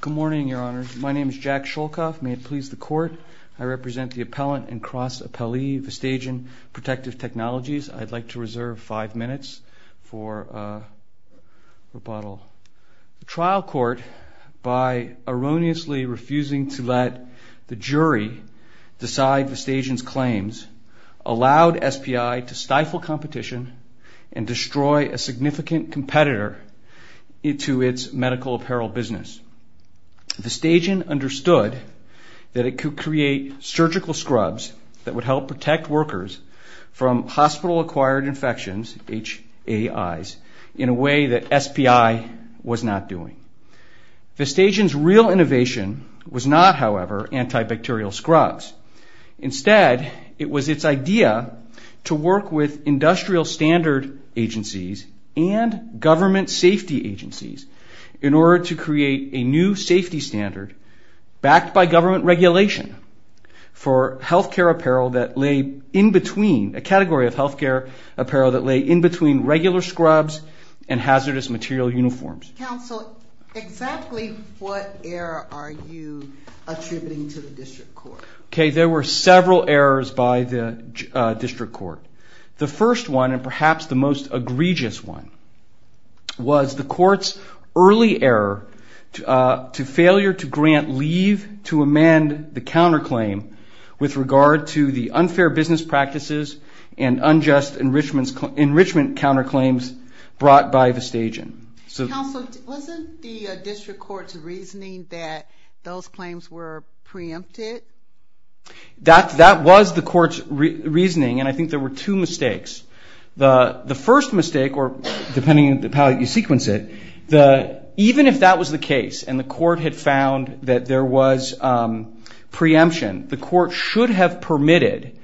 Good morning, Your Honors. My name is Jack Sholkoff. May it please the Court, I represent the appellant and cross-appellee, Vestagen Protective Technologies. I'd like to reserve five minutes for rebuttal. The trial court, by erroneously refusing to let the jury decide Vestagen's claims, allowed SPI to stifle competition and destroy a significant competitor to its medical apparel business. Vestagen understood that it could create surgical scrubs that would help protect workers from hospital-acquired infections, HAIs, in a way that SPI was not doing. Vestagen's real innovation was not, however, antibacterial scrubs. Instead, it was its idea to work with industrial standard agencies and government safety agencies in order to create a new safety standard, backed by government regulation, for healthcare apparel that lay in between, a category of healthcare apparel that lay in between regular scrubs and hazardous material uniforms. Counsel, exactly what error are you attributing to the district court? There were several errors by the district court. The first one, and perhaps the most egregious one, was the court's early error to failure to grant leave to amend the counterclaim with regard to the unfair business practices and unjust enrichment counterclaims brought by Vestagen. Counsel, wasn't the district court's reasoning that those claims were preempted by Vestagen? That was the court's reasoning, and I think there were two mistakes. The first mistake, or depending on how you sequence it, even if that was the case and the court had found that there was preemption, the court should have permitted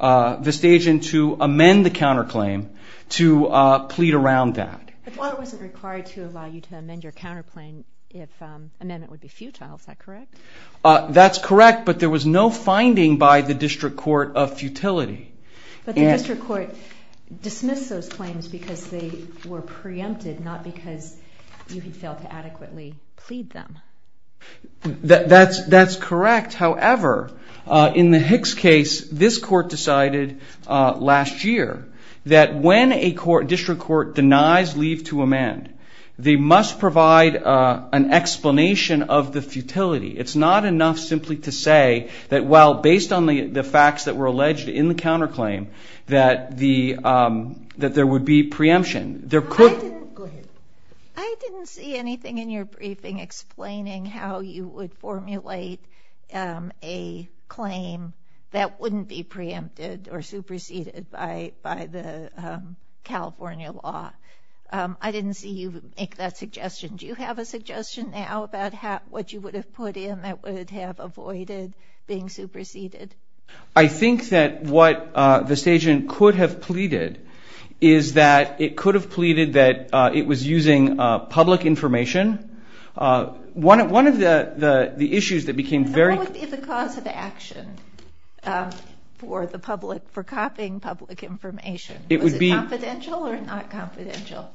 Vestagen to amend the counterclaim to plead around that. The court wasn't required to allow you to amend your contract, but there was no finding by the district court of futility. But the district court dismissed those claims because they were preempted, not because you had failed to adequately plead them. That's correct. However, in the Hicks case, this court decided last year that when a district court denies leave to amend, they must provide an explanation of the futility. It's not enough simply to say that while based on the facts that were alleged in the counterclaim, that there would be preemption. Go ahead. I didn't see anything in your briefing explaining how you would formulate a claim that wouldn't be preempted or superseded by the California law. I didn't see you make that suggestion. Do you have a suggestion now about what you would have put in that would have avoided being superseded? I think that what Vestagen could have pleaded is that it could have pleaded that it was using public information. One of the issues that became very... What would be the cause of action for copying public information? Was it confidential or not confidential?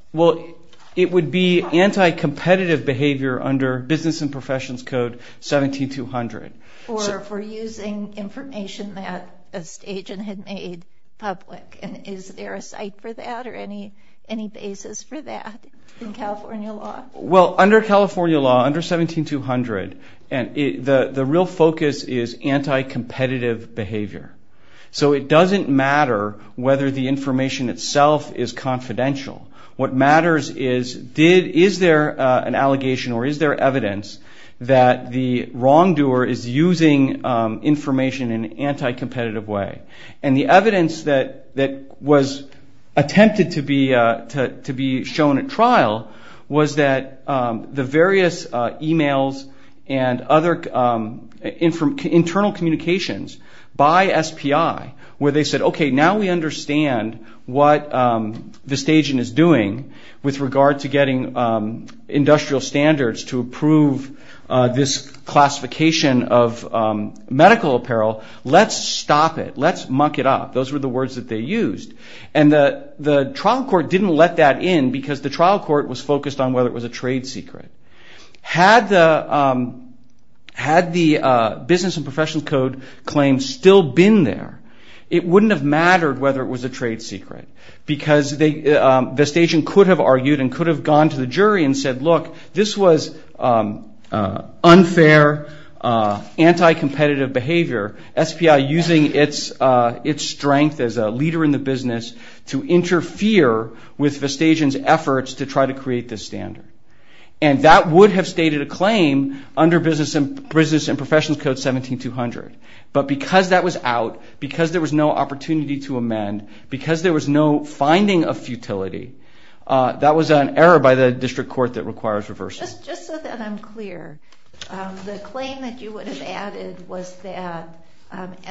It would be anti-competitive behavior under Business and Professions Code 17200. Or for using information that Vestagen had made public. Is there a site for that or any basis for that in California law? Under California law, under 17200, the real focus is anti-competitive behavior. It doesn't matter whether the information itself is confidential. What matters is, is there an allegation or is there evidence that the wrongdoer is using information in an anti-competitive way? The evidence that was attempted to be shown at trial was that the various e-mails and other internal communications by SPI where they said, okay, now we understand what Vestagen is doing with regard to getting industrial standards to approve this classification of medical apparel. Let's stop it. Let's muck it up. Those were the words that they used. The trial court didn't let that in because the trial court was focused on whether it had the Business and Professions Code claim still been there. It wouldn't have mattered whether it was a trade secret because Vestagen could have argued and could have gone to the jury and said, look, this was unfair, anti-competitive behavior. SPI using its strength as a leader in the business to interfere with Vestagen's efforts to try to create this standard. And that would have stated a claim under Business and Professions Code 17200. But because that was out, because there was no opportunity to amend, because there was no finding of futility, that was an error by the district court that requires reversal. Just so that I'm clear, the claim that you would have added was that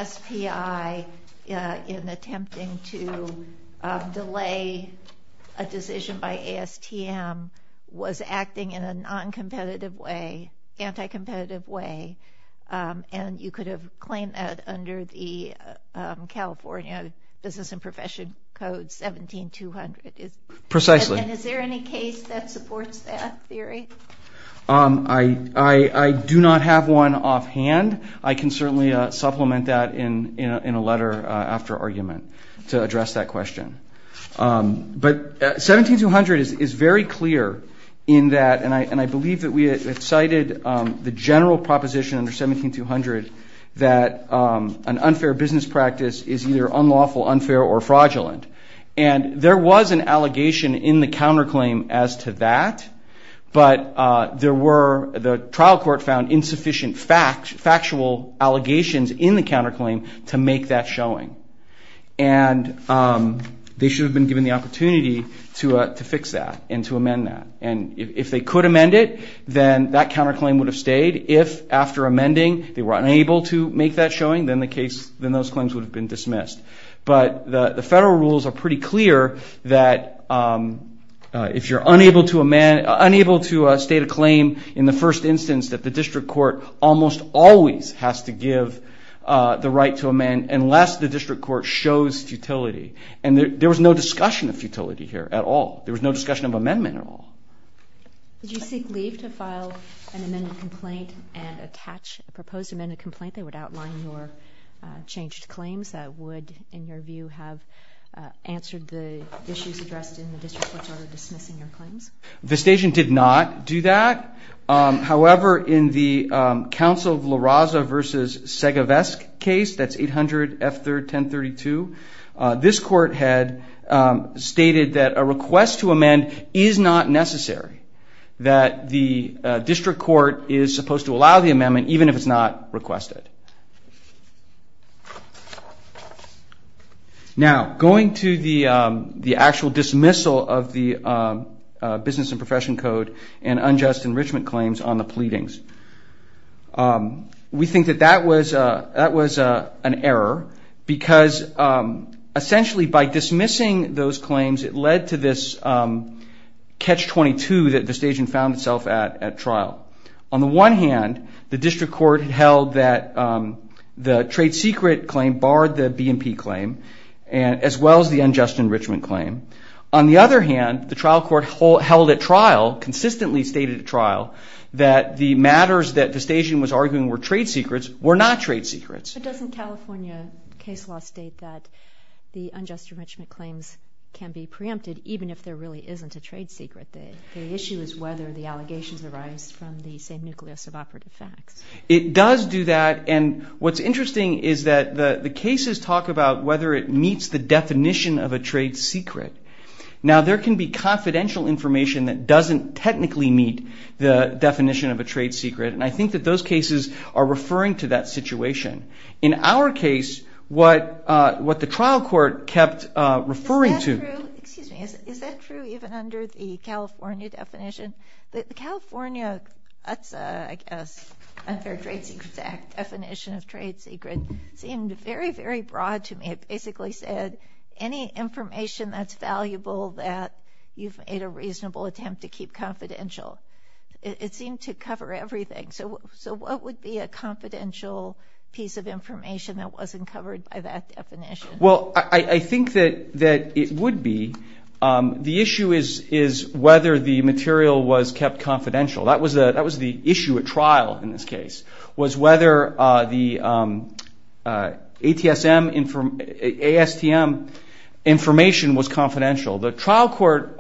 SPI in attempting to delay a decision by ASTM was acting in a non-competitive way, anti-competitive way, and you could have claimed that under the California Business and Professions Code 17200. Precisely. And is there any case that supports that theory? I do not have one offhand. I can certainly supplement that in a letter after argument. To address that question. But 17200 is very clear in that, and I believe that we have cited the general proposition under 17200 that an unfair business practice is either unlawful, unfair, or fraudulent. And there was an allegation in the counterclaim as to that, but there were, the trial court found insufficient factual allegations in the counterclaim to make that showing. And they should have been given the opportunity to fix that and to amend that. And if they could amend it, then that counterclaim would have stayed. If after amending they were unable to make that showing, then the case, then those claims would have been dismissed. But the federal rules are pretty clear that if you're unable to amend, unable to state a claim in the first instance, that the district court almost always has to give the right to amend unless the district court shows futility. And there was no discussion of futility here at all. There was no discussion of amendment at all. Did you seek leave to file an amended complaint and attach a proposed amended complaint that would outline your changed claims that would, in your view, have answered the issues addressed in the district court's order dismissing your claims? Vestation did not do that. However, in the Council of La Raza v. Segevesk case, that's 800-F3-1032, this court had stated that a request to amend is not necessary, that the district court is supposed to allow the amendment even if it's not requested. Now, going to the actual dismissal of the Business and Profession Code and unjust enrichment claims on the pleadings, we think that that was an error because essentially by dismissing those claims, it led to this catch-22 that Vestation found itself at at trial. On the one hand, the district court held that the trade secret claim barred the B&P claim as well as the unjust enrichment claim. On the other hand, the trial court held at trial, consistently stated at trial, that the matters that Vestation was arguing were trade secrets were not trade secrets. But doesn't California case law state that the unjust enrichment claims can be preempted even if there really isn't a trade secret? The issue is whether the allegations arise from the same nucleus of operative facts. It does do that, and what's interesting is that the cases talk about whether it meets the definition of a trade secret. Now, there can be confidential information that doesn't technically meet the definition of a trade secret, and I think that those cases are referring to that situation. In our case, what the trial court kept referring to... That's, I guess, a third trade secret act definition of trade secret. It seemed very, very broad to me. It basically said any information that's valuable that you've made a reasonable attempt to keep confidential. It seemed to cover everything. So what would be a confidential piece of information that wasn't covered by that definition? Well, I think that it would be. The issue is whether the material was kept confidential. That was the issue at trial in this case, was whether the ASTM information was confidential. The trial court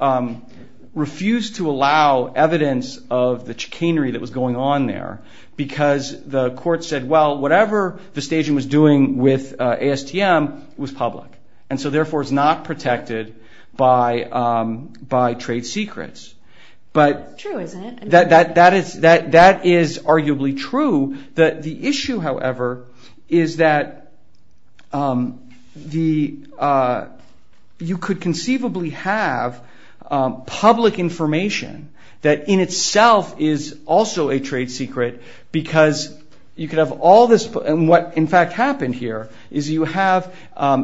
refused to allow evidence of the chicanery that was going on there because the court said, well, whatever Vestagian was doing with ASTM was public, and so therefore is not protected by trade secrets. True, isn't it? That is arguably true. The issue, however, is that you could conceivably have public information that in itself is also a trade secret because you could have all this... And what, in fact, happened here is you have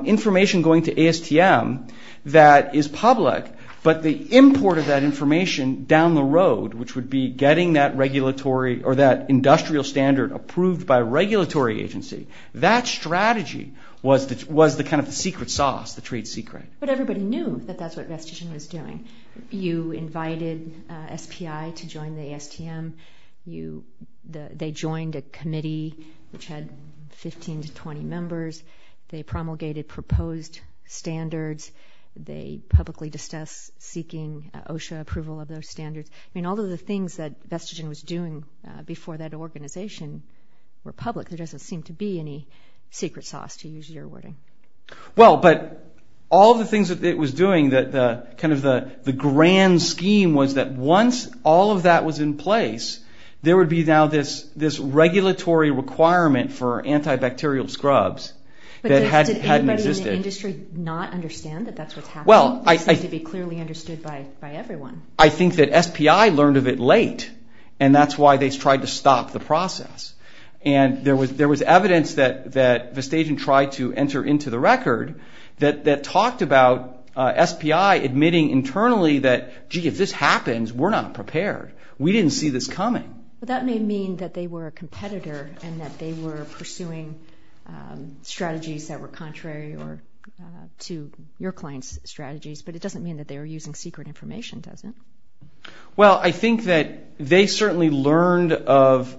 information going to ASTM that is public, but the import of that information down the road, which would be getting that regulatory or that industrial standard approved by a regulatory agency, that strategy was the kind of secret sauce, the trade secret. But everybody knew that that's what Vestagian was doing. You invited SPI to join the ASTM. They joined a committee which had 15 to 20 members. They promulgated proposed standards. They publicly discussed seeking OSHA approval of those standards. I mean, all of the things that Vestagian was doing before that organization were public. There doesn't seem to be any secret sauce, to use your wording. Well, but all of the things that it was doing, kind of the grand scheme was that once all of that was in place, there would be now this regulatory requirement for antibacterial scrubs that hadn't existed. But did anybody in the industry not understand that that's what's happening? Well, I... It seems to be clearly understood by everyone. I think that SPI learned of it late, and that's why they tried to stop the process. And there was evidence that Vestagian tried to enter into the record that talked about SPI admitting internally that, gee, if this happens, we're not prepared. We didn't see this coming. But that may mean that they were a competitor and that they were pursuing strategies that were contrary to your client's strategies, but it doesn't mean that they were using secret information, does it? Well, I think that they certainly learned of,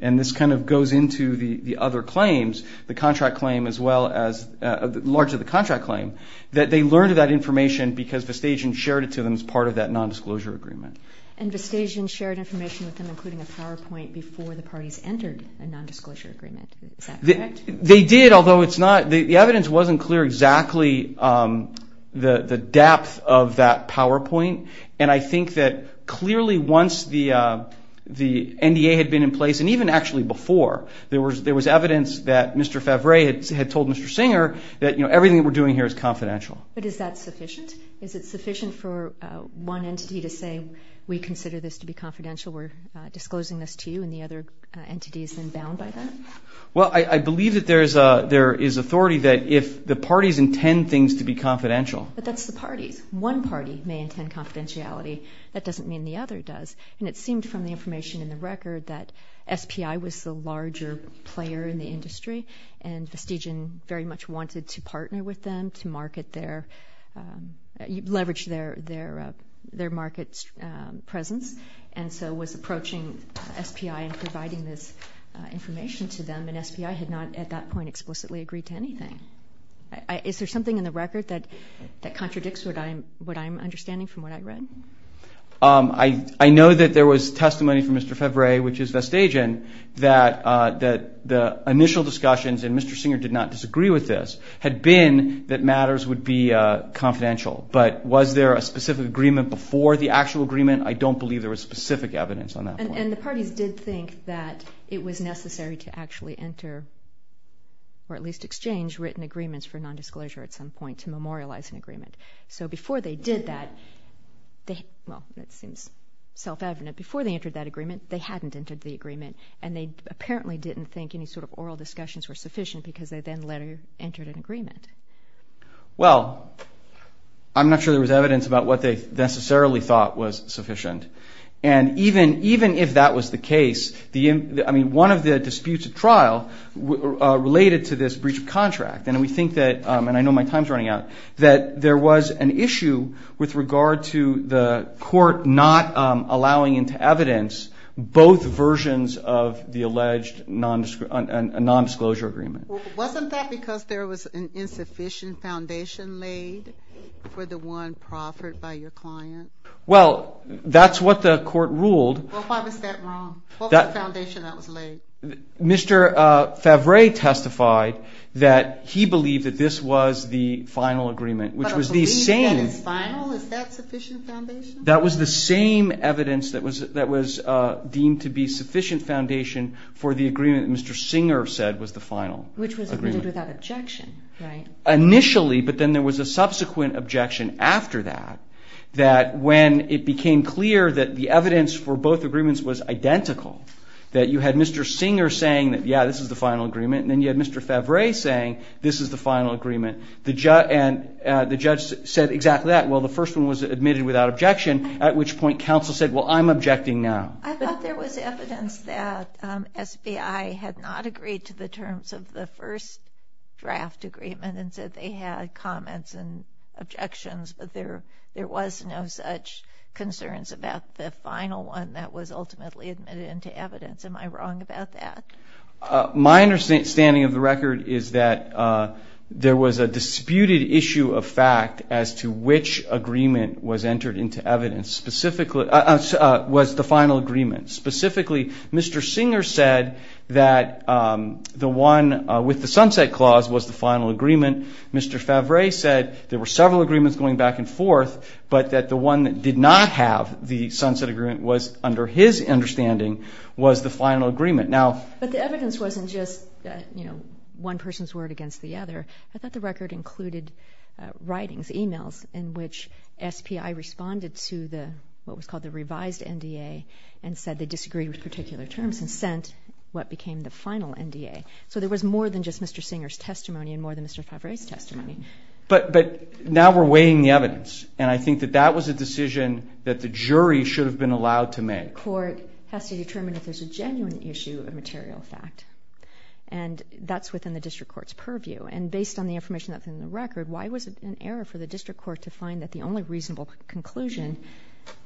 and this kind of goes into the other claims, the contract claim as well as large of the contract claim, that they learned of that information because Vestagian shared it to them as part of that nondisclosure agreement. And Vestagian shared information with them, including a PowerPoint, before the parties entered a nondisclosure agreement. Is that correct? They did, although it's not... The evidence wasn't clear exactly the depth of that PowerPoint. And I think that clearly once the NDA had been in place, and even actually before, there was evidence that Mr. Favre had told Mr. Singer that, you know, everything we're doing here is confidential. But is that sufficient? Is it sufficient for one entity to say, we consider this to be confidential, we're disclosing this to you, and the other entity is then bound by that? Well, I believe that there is authority that if the parties intend things to be confidential. But that's the parties. One party may intend confidentiality. That doesn't mean the other does. And it seemed from the information in the record that SPI was the larger player in the industry, and Vestagian very much wanted to partner with them to market their... leverage their market presence, and so was approaching SPI and providing this information to them. And SPI had not at that point explicitly agreed to anything. Is there something in the record that contradicts what I'm understanding from what I read? I know that there was testimony from Mr. Favre, which is Vestagian, that the initial discussions, and Mr. Singer did not disagree with this, had been that matters would be confidential. But was there a specific agreement before the actual agreement? I don't believe there was specific evidence on that point. And the parties did think that it was necessary to actually enter, or at least exchange written agreements for nondisclosure at some point to memorialize an agreement. So before they did that, well, that seems self-evident. Before they entered that agreement, they hadn't entered the agreement, and they apparently didn't think any sort of oral discussions were sufficient because they then later entered an agreement. Well, I'm not sure there was evidence about what they necessarily thought was sufficient. And even if that was the case, I mean, one of the disputes at trial related to this breach of contract, and we think that, and I know my time's running out, that there was an issue with regard to the court not allowing into evidence both versions of the alleged nondisclosure agreement. Wasn't that because there was an insufficient foundation laid for the one proffered by your client? Well, that's what the court ruled. Well, why was that wrong? What was the foundation that was laid? Mr. Favre testified that he believed that this was the final agreement, which was the same. But a belief that it's final, is that sufficient foundation? That was the same evidence that was deemed to be sufficient foundation for the agreement that Mr. Singer said was the final agreement. Which was agreed without objection, right? Initially, but then there was a subsequent objection after that, that when it became clear that the evidence for both agreements was identical, that you had Mr. Singer saying, yeah, this is the final agreement, and then you had Mr. Favre saying, this is the final agreement, and the judge said exactly that. Well, the first one was admitted without objection, at which point counsel said, well, I'm objecting now. I thought there was evidence that SBI had not agreed to the terms of the first draft agreement and said they had comments and objections, but there was no such concerns about the final one that was ultimately admitted into evidence. Am I wrong about that? My understanding of the record is that there was a disputed issue of fact as to which agreement was entered into evidence, was the final agreement. Specifically, Mr. Singer said that the one with the sunset clause was the final agreement. Mr. Favre said there were several agreements going back and forth, but that the one that did not have the sunset agreement was, under his understanding, was the final agreement. But the evidence wasn't just one person's word against the other. I thought the record included writings, e-mails, in which SBI responded to what was called the revised NDA and said they disagreed with particular terms and sent what became the final NDA. So there was more than just Mr. Singer's testimony and more than Mr. Favre's testimony. But now we're weighing the evidence, and I think that that was a decision that the jury should have been allowed to make. The court has to determine if there's a genuine issue of material fact, and that's within the district court's purview. And based on the information that's in the record, why was it an error for the district court to find that the only reasonable conclusion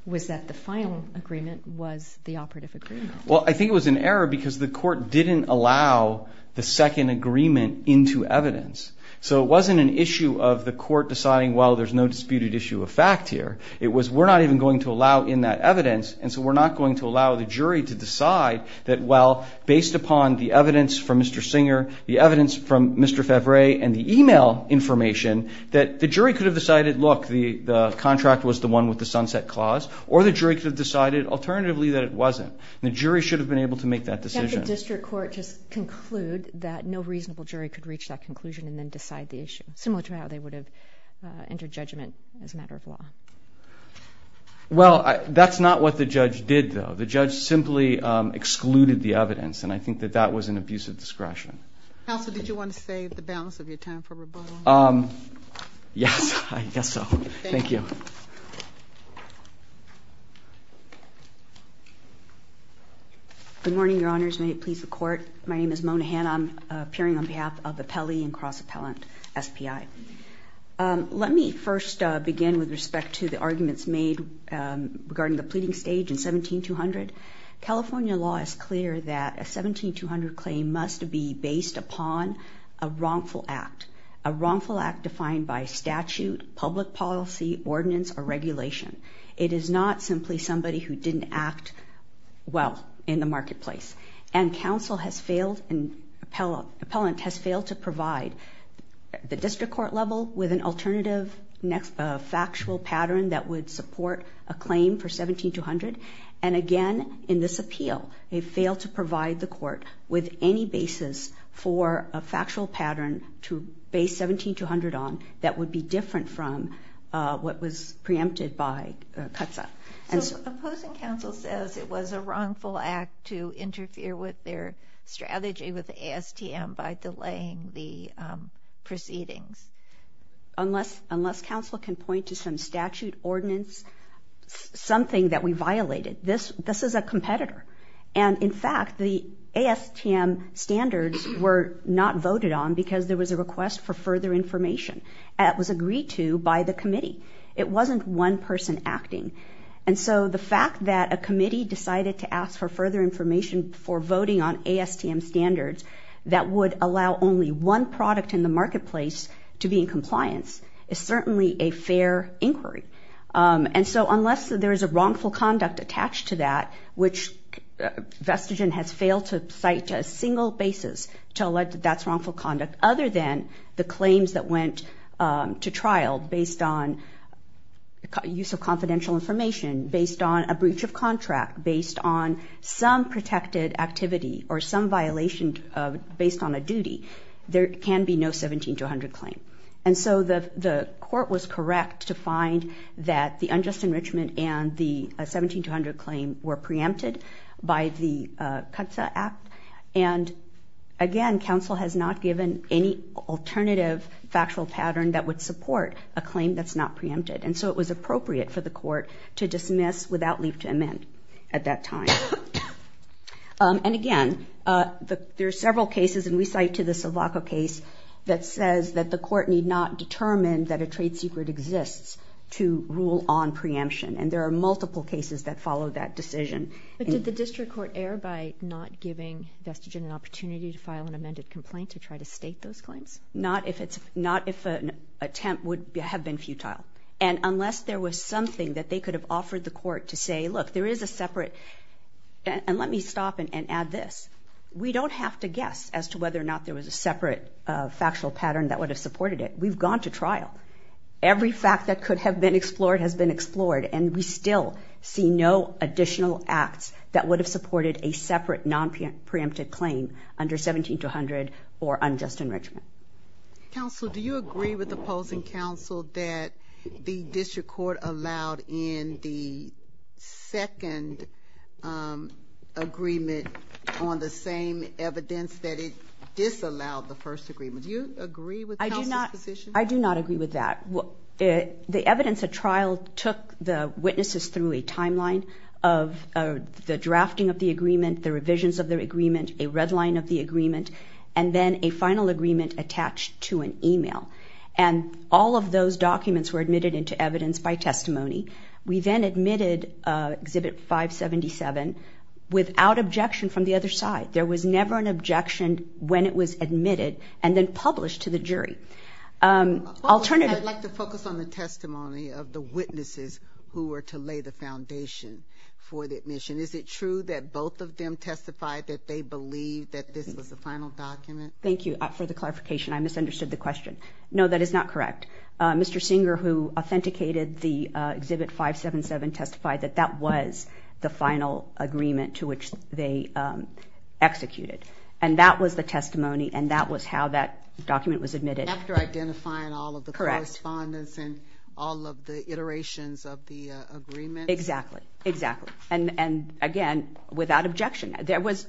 was that the final agreement was the operative agreement? Well, I think it was an error because the court didn't allow the second agreement into evidence. So it wasn't an issue of the court deciding, well, there's no disputed issue of fact here. It was we're not even going to allow in that evidence, and so we're not going to allow the jury to decide that, well, based upon the evidence from Mr. Singer, the evidence from Mr. Favre, and the e-mail information, that the jury could have decided, look, the contract was the one with the sunset clause, or the jury could have decided alternatively that it wasn't. The jury should have been able to make that decision. Did the district court just conclude that no reasonable jury could reach that conclusion and then decide the issue, similar to how they would have entered judgment as a matter of law? Well, that's not what the judge did, though. The judge simply excluded the evidence, and I think that that was an abuse of discretion. Counsel, did you want to save the balance of your time for rebuttal? Yes, I guess so. Thank you. Good morning, Your Honors. May it please the Court. My name is Mona Hanna. I'm appearing on behalf of Appellee and Cross-Appellant SPI. Let me first begin with respect to the arguments made regarding the pleading stage in 17-200. California law is clear that a 17-200 claim must be based upon a wrongful act, a wrongful act defined by statute, public policy, ordinance, or regulation. It is not simply somebody who didn't act well in the marketplace. And counsel has failed and appellant has failed to provide the district court level with an alternative factual pattern that would support a claim for 17-200. And again, in this appeal, they failed to provide the court with any basis for a factual pattern to base 17-200 on that would be different from what was preempted by CUTSA. So opposing counsel says it was a wrongful act to interfere with their strategy with ASTM by delaying the proceedings. Unless counsel can point to some statute, ordinance, something that we violated. This is a competitor. And in fact, the ASTM standards were not voted on because there was a request for further information that was agreed to by the committee. It wasn't one person acting. And so the fact that a committee decided to ask for further information for voting on ASTM standards that would allow only one product in the marketplace to be in compliance is certainly a fair inquiry. And so unless there is a wrongful conduct attached to that, which Vestigen has failed to cite a single basis to allege that that's wrongful conduct other than the claims that went to trial based on use of confidential information, based on a breach of contract, based on some protected activity, or some violation based on a duty, there can be no 17-200 claim. And so the court was correct to find that the unjust enrichment and the 17-200 claim were preempted by the Cutza Act. And again, counsel has not given any alternative factual pattern that would support a claim that's not preempted. And so it was appropriate for the court to dismiss without leave to amend at that time. And again, there are several cases, and we cite to the Sivaka case, that says that the court need not determine that a trade secret exists to rule on preemption. And there are multiple cases that follow that decision. But did the district court err by not giving Vestigen an opportunity to file an amended complaint to try to state those claims? Not if an attempt would have been futile. And unless there was something that they could have offered the court to say, look, there is a separate, and let me stop and add this, we don't have to guess as to whether or not there was a separate factual pattern that would have supported it. We've gone to trial. Every fact that could have been explored has been explored, and we still see no additional acts that would have supported a separate non-preemptive claim under 17-200 or unjust enrichment. Counsel, do you agree with opposing counsel that the district court allowed in the second agreement on the same evidence that it disallowed the first agreement? Do you agree with counsel's position? I do not agree with that. The evidence at trial took the witnesses through a timeline of the drafting of the agreement, the revisions of the agreement, a red line of the agreement, and then a final agreement attached to an email. And all of those documents were admitted into evidence by testimony. We then admitted Exhibit 577 without objection from the other side. There was never an objection when it was admitted and then published to the jury. I'd like to focus on the testimony of the witnesses who were to lay the foundation for the admission. Is it true that both of them testified that they believed that this was the final document? Thank you for the clarification. I misunderstood the question. No, that is not correct. Mr. Singer, who authenticated the Exhibit 577, testified that that was the final agreement to which they executed. And that was the testimony, and that was how that document was admitted. After identifying all of the correspondence and all of the iterations of the agreement? Exactly. Exactly. And, again, without objection. There was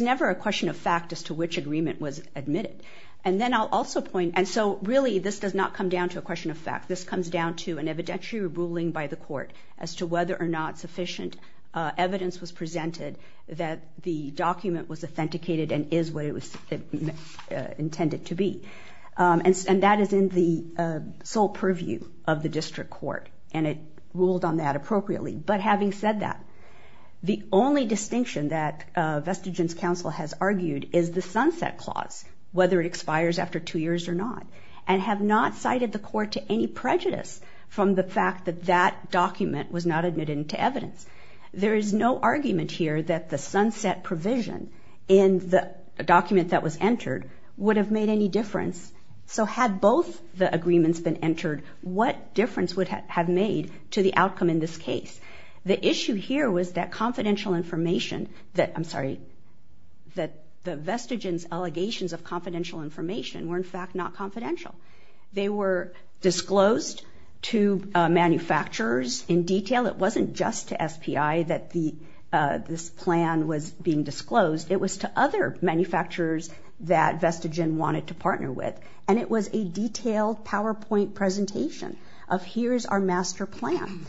never a question of fact as to which agreement was admitted. And then I'll also point, and so really this does not come down to a question of fact. This comes down to an evidentiary ruling by the court as to whether or not sufficient evidence was presented that the document was authenticated and is what it was intended to be. And that is in the sole purview of the district court, and it ruled on that appropriately. But having said that, the only distinction that Vestigin's counsel has argued is the sunset clause, whether it expires after two years or not, and have not cited the court to any prejudice from the fact that that document was not admitted into evidence. There is no argument here that the sunset provision in the document that was entered would have made any difference. So had both the agreements been entered, what difference would it have made to the outcome in this case? The issue here was that confidential information that, I'm sorry, that Vestigin's allegations of confidential information were, in fact, not confidential. They were disclosed to manufacturers in detail. It wasn't just to SPI that this plan was being disclosed. It was to other manufacturers that Vestigin wanted to partner with, and it was a detailed PowerPoint presentation of here is our master plan.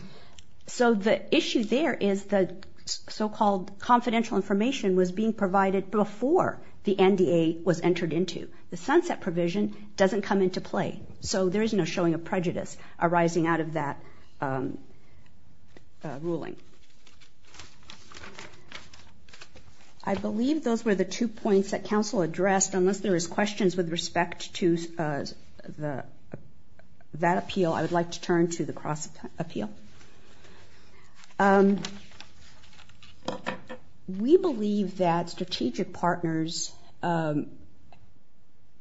So the issue there is the so-called confidential information was being provided before the NDA was entered into. The sunset provision doesn't come into play, so there is no showing of prejudice arising out of that ruling. I believe those were the two points that counsel addressed. Unless there is questions with respect to that appeal, I would like to turn to the cross-appeal. We believe that strategic partners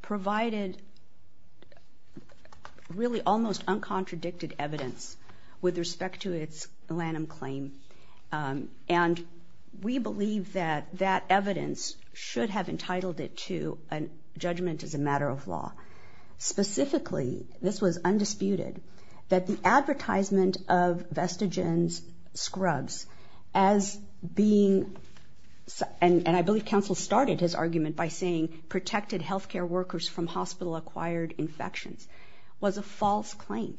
provided really almost uncontradicted evidence with respect to its Lanham claim. And we believe that that evidence should have entitled it to a judgment as a matter of law. Specifically, this was undisputed, that the advertisement of Vestigin's scrubs as being, and I believe counsel started his argument by saying, protected health care workers from hospital-acquired infections, was a false claim.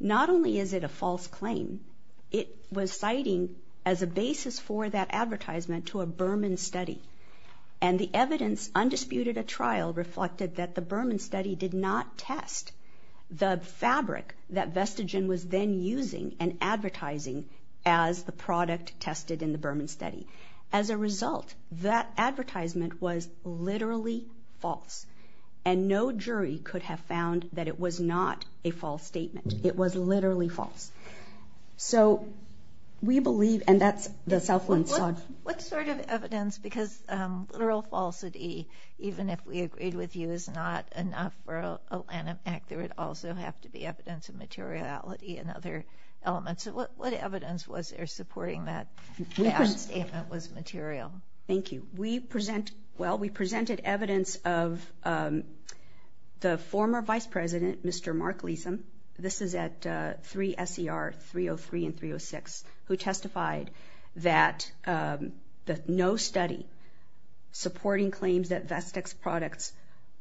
Not only is it a false claim, it was citing as a basis for that advertisement to a Berman study. And the evidence, undisputed at trial, reflected that the Berman study did not test the fabric that Vestigin was then using and advertising as the product tested in the Berman study. As a result, that advertisement was literally false. And no jury could have found that it was not a false statement. It was literally false. So, we believe, and that's the Southland side. What sort of evidence, because literal falsity, even if we agreed with you is not enough for a Lanham Act, there would also have to be evidence of materiality and other elements. What evidence was there supporting that statement was material? Thank you. Well, we presented evidence of the former Vice President, Mr. Mark Leeson. This is at 3 S.E.R. 303 and 306, who testified that no study supporting claims that Vestig's products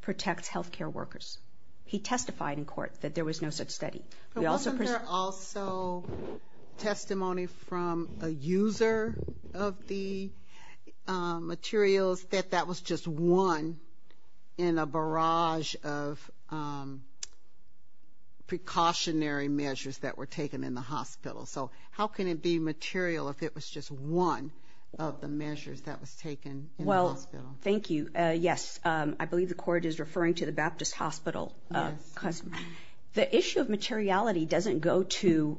protect health care workers. He testified in court that there was no such study. But wasn't there also testimony from a user of the materials that that was just one in a barrage of precautionary measures that were taken in the hospital? So, how can it be material if it was just one of the measures that was taken in the hospital? Well, thank you. Yes, I believe the court is referring to the Baptist Hospital. The issue of materiality doesn't go to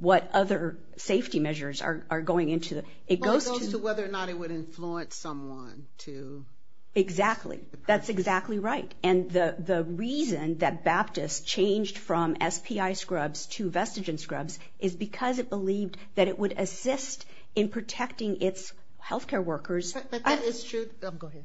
what other safety measures are going into it. It goes to whether or not it would influence someone to. Exactly. That's exactly right. And the reason that Baptist changed from SPI scrubs to Vestigen scrubs is because it believed that it would assist in protecting its health care workers. But that is true. Go ahead.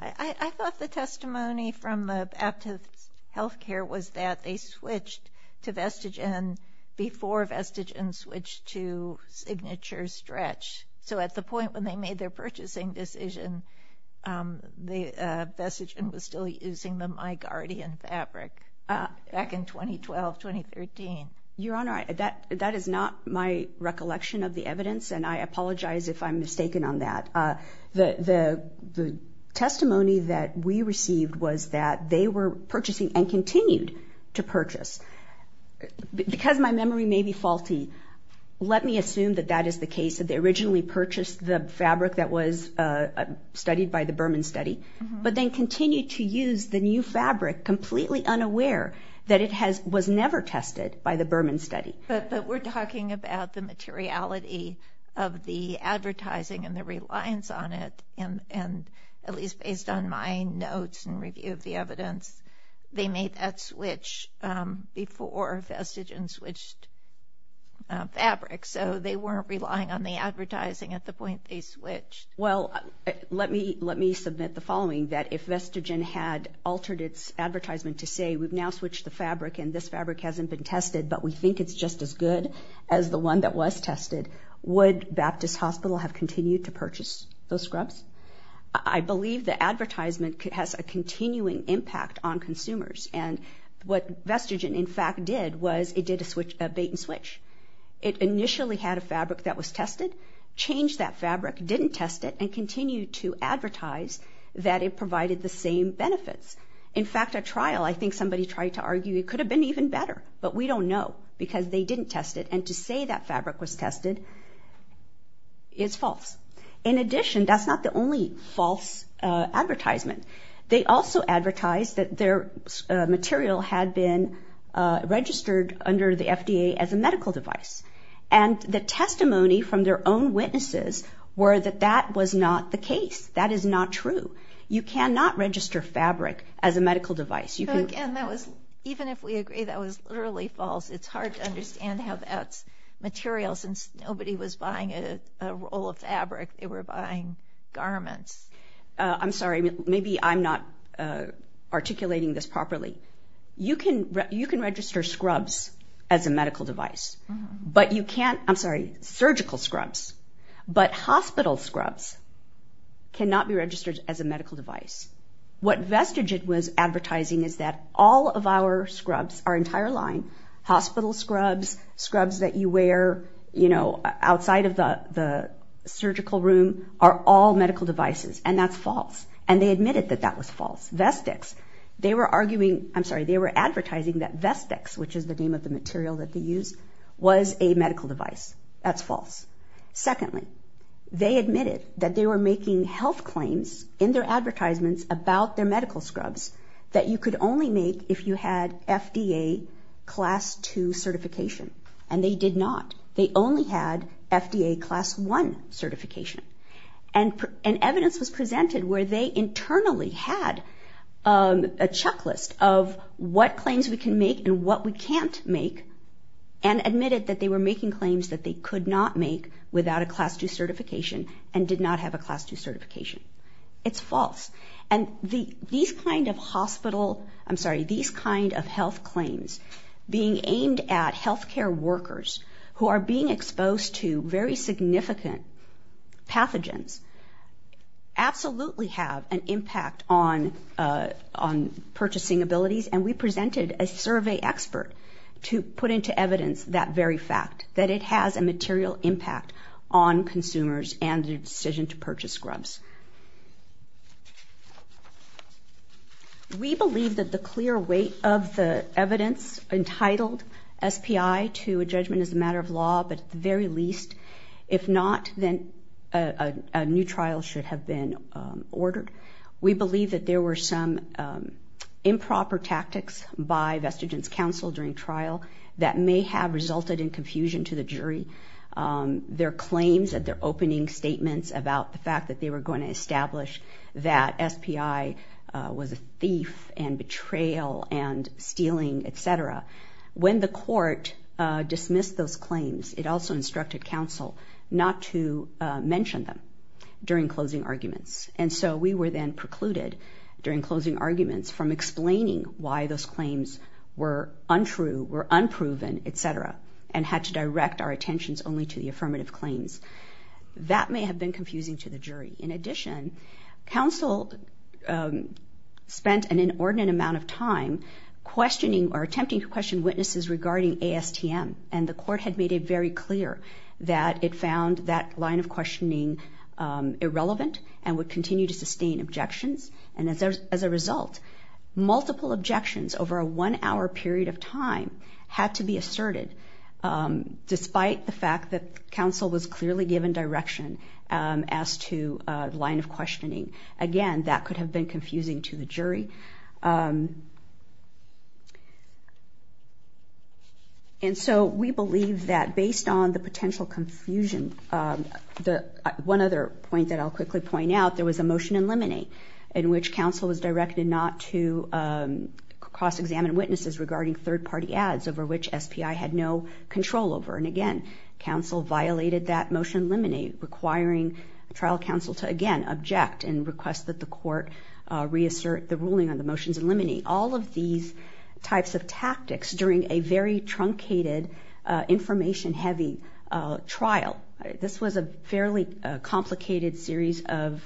I thought the testimony from the Baptist Health Care was that they switched to Vestigen before Vestigen switched to Signature Stretch. So, at the point when they made their purchasing decision, Vestigen was still using the MyGuardian fabric back in 2012-2013. Your Honor, that is not my recollection of the evidence, and I apologize if I'm mistaken on that. The testimony that we received was that they were purchasing and continued to purchase. Because my memory may be faulty, let me assume that that is the case, that they originally purchased the fabric that was studied by the Berman study, but then continued to use the new fabric completely unaware that it was never tested by the Berman study. But we're talking about the materiality of the advertising and the reliance on it. And at least based on my notes and review of the evidence, they made that switch before Vestigen switched fabrics. So they weren't relying on the advertising at the point they switched. Well, let me submit the following, that if Vestigen had altered its advertisement to say, we've now switched the fabric and this fabric hasn't been tested, but we think it's just as good as the one that was tested, would Baptist Hospital have continued to purchase those scrubs? I believe the advertisement has a continuing impact on consumers. And what Vestigen, in fact, did was it did a bait and switch. It initially had a fabric that was tested, changed that fabric, didn't test it, and continued to advertise that it provided the same benefits. In fact, at trial, I think somebody tried to argue it could have been even better, but we don't know because they didn't test it. And to say that fabric was tested is false. In addition, that's not the only false advertisement. They also advertised that their material had been registered under the FDA as a medical device. And the testimony from their own witnesses were that that was not the case. That is not true. You cannot register fabric as a medical device. Again, even if we agree that was literally false, it's hard to understand how that material, since nobody was buying a roll of fabric, they were buying garments. I'm sorry, maybe I'm not articulating this properly. You can register scrubs as a medical device. But you can't, I'm sorry, surgical scrubs. But hospital scrubs cannot be registered as a medical device. What Vestigid was advertising is that all of our scrubs, our entire line, hospital scrubs, scrubs that you wear, you know, outside of the surgical room, are all medical devices, and that's false. And they admitted that that was false. Vestix, they were arguing, I'm sorry, they were advertising that Vestix, which is the name of the material that they used, was a medical device. That's false. Secondly, they admitted that they were making health claims in their advertisements about their medical scrubs that you could only make if you had FDA Class 2 certification. And they did not. They only had FDA Class 1 certification. And evidence was presented where they internally had a checklist of what claims we can make and what we can't make and admitted that they were making claims that they could not make without a Class 2 certification and did not have a Class 2 certification. It's false. And these kind of hospital, I'm sorry, these kind of health claims being aimed at health care workers who are being exposed to very significant pathogens absolutely have an impact on purchasing abilities. And we presented a survey expert to put into evidence that very fact, that it has a material impact on consumers and their decision to purchase scrubs. We believe that the clear weight of the evidence entitled SPI to a judgment is a matter of law, but at the very least, if not, then a new trial should have been ordered. We believe that there were some improper tactics by Vestigen's counsel during trial that may have resulted in confusion to the jury. Their claims at their opening statements about the fact that they were going to establish that SPI was a thief and betrayal and stealing, et cetera, when the court dismissed those claims, it also instructed counsel not to mention them during closing arguments. And so we were then precluded during closing arguments from explaining why those claims were untrue, were unproven, et cetera, and had to direct our attentions only to the affirmative claims. That may have been confusing to the jury. In addition, counsel spent an inordinate amount of time questioning or attempting to question witnesses regarding ASTM, and the court had made it very clear that it found that line of questioning irrelevant and would continue to sustain objections. And as a result, multiple objections over a one-hour period of time had to be asserted, despite the fact that counsel was clearly given direction as to line of questioning. Again, that could have been confusing to the jury. And so we believe that based on the potential confusion, one other point that I'll quickly point out, there was a motion in limine in which counsel was directed not to cross-examine witnesses regarding third-party ads over which SPI had no control over. And again, counsel violated that motion in limine, requiring trial counsel to, again, object and request that the court reassert the ruling on the motions in limine. All of these types of tactics during a very truncated, information-heavy trial, this was a fairly complicated series of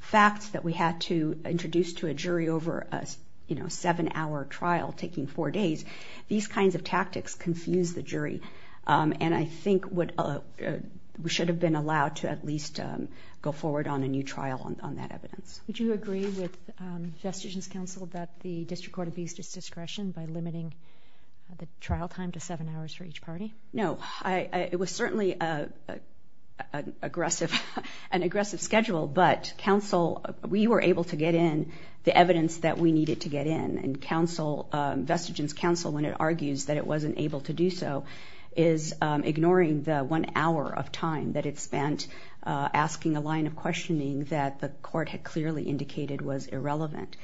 facts that we had to introduce to a jury over a seven-hour trial taking four days. These kinds of tactics confused the jury, and I think we should have been allowed to at least go forward on a new trial on that evidence. Would you agree with Vestigin's counsel that the district court abused its discretion by limiting the trial time to seven hours for each party? No. It was certainly an aggressive schedule, but we were able to get in the evidence that we needed to get in, and Vestigin's counsel, when it argues that it wasn't able to do so, is ignoring the one hour of time that it spent asking a line of questioning that the court had clearly indicated was irrelevant.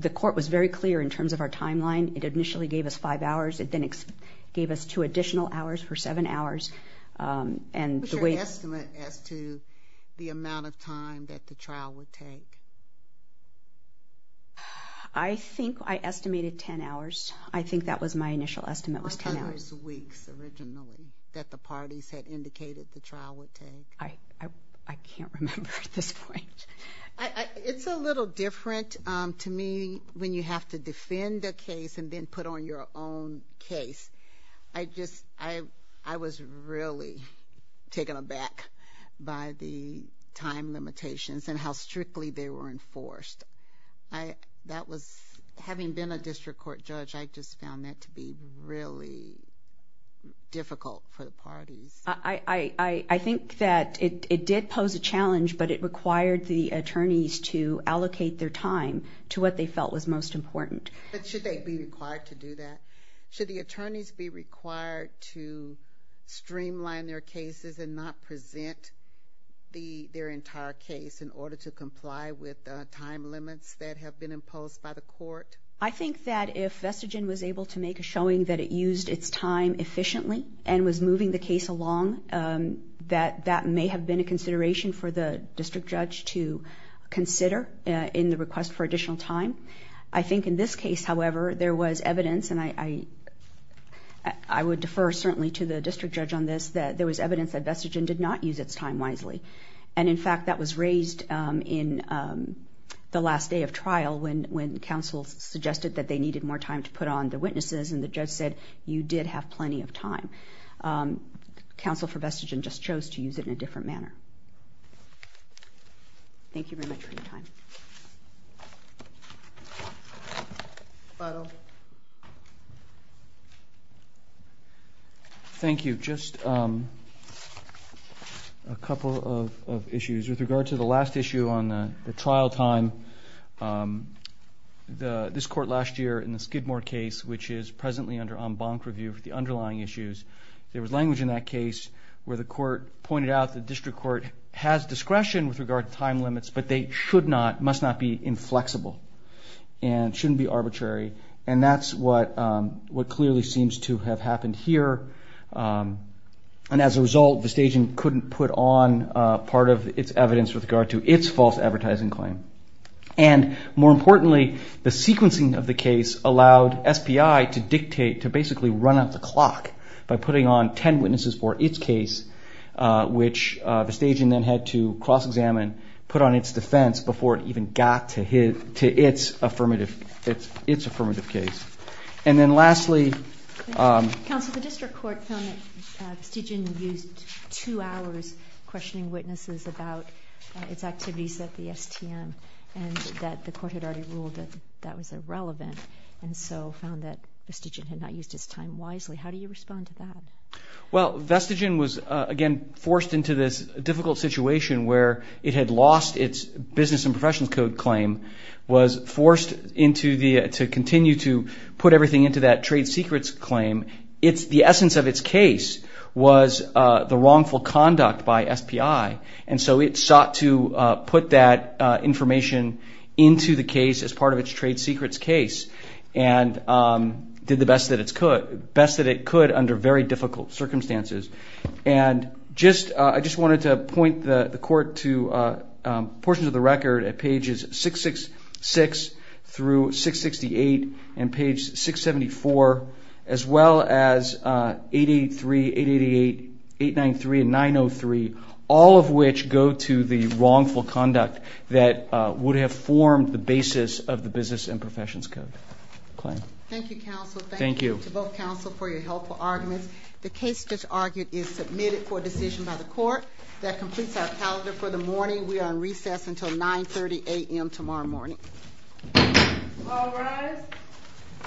The court was very clear in terms of our timeline. It initially gave us five hours. It then gave us two additional hours for seven hours. What's your estimate as to the amount of time that the trial would take? I think I estimated ten hours. I think that was my initial estimate was ten hours. How many weeks originally that the parties had indicated the trial would take? I can't remember at this point. It's a little different to me when you have to defend a case and then put on your own case. I was really taken aback by the time limitations and how strictly they were enforced. Having been a district court judge, I just found that to be really difficult for the parties. I think that it did pose a challenge, but it required the attorneys to allocate their time to what they felt was most important. Should they be required to do that? Should the attorneys be required to streamline their cases and not present their entire case in order to comply with time limits that have been imposed by the court? I think that if Vestigin was able to make a showing that it used its time efficiently and was moving the case along, that that may have been a consideration for the district judge to consider in the request for additional time. I think in this case, however, there was evidence, and I would defer certainly to the district judge on this, that there was evidence that Vestigin did not use its time wisely. In fact, that was raised in the last day of trial when counsel suggested that they needed more time to put on the witnesses and the judge said, you did have plenty of time. Counsel for Vestigin just chose to use it in a different manner. Thank you very much for your time. Thank you. Just a couple of issues. With regard to the last issue on the trial time, this court last year in the Skidmore case, which is presently under en banc review for the underlying issues, there was language in that case where the court pointed out the district court has discretion with regard to time limits, but they must not be inflexible and shouldn't be arbitrary. And that's what clearly seems to have happened here. And as a result, Vestigin couldn't put on part of its evidence with regard to its false advertising claim. And more importantly, the sequencing of the case allowed SPI to dictate, to basically run out the clock by putting on ten witnesses for its case, which Vestigin then had to cross-examine, put on its defense before it even got to its affirmative case. And then lastly... Counsel, the district court found that Vestigin used two hours questioning witnesses about its activities at the STM and that the court had already ruled that that was irrelevant and so found that Vestigin had not used its time wisely. How do you respond to that? Well, Vestigin was, again, forced into this difficult situation where it had lost its business and professions code claim, was forced to continue to put everything into that trade secrets claim. The essence of its case was the wrongful conduct by SPI, and so it sought to put that information into the case as part of its trade secrets case and did the best that it could under very difficult circumstances. And I just wanted to point the court to portions of the record at pages 666 through 668 and page 674 as well as 883, 888, 893, and 903, all of which go to the wrongful conduct that would have formed the basis of the business and professions code claim. Thank you, counsel. Thank you to both counsel for your helpful arguments. The case that's argued is submitted for decision by the court. That completes our calendar for the morning. We are on recess until 9.30 a.m. tomorrow morning. All rise.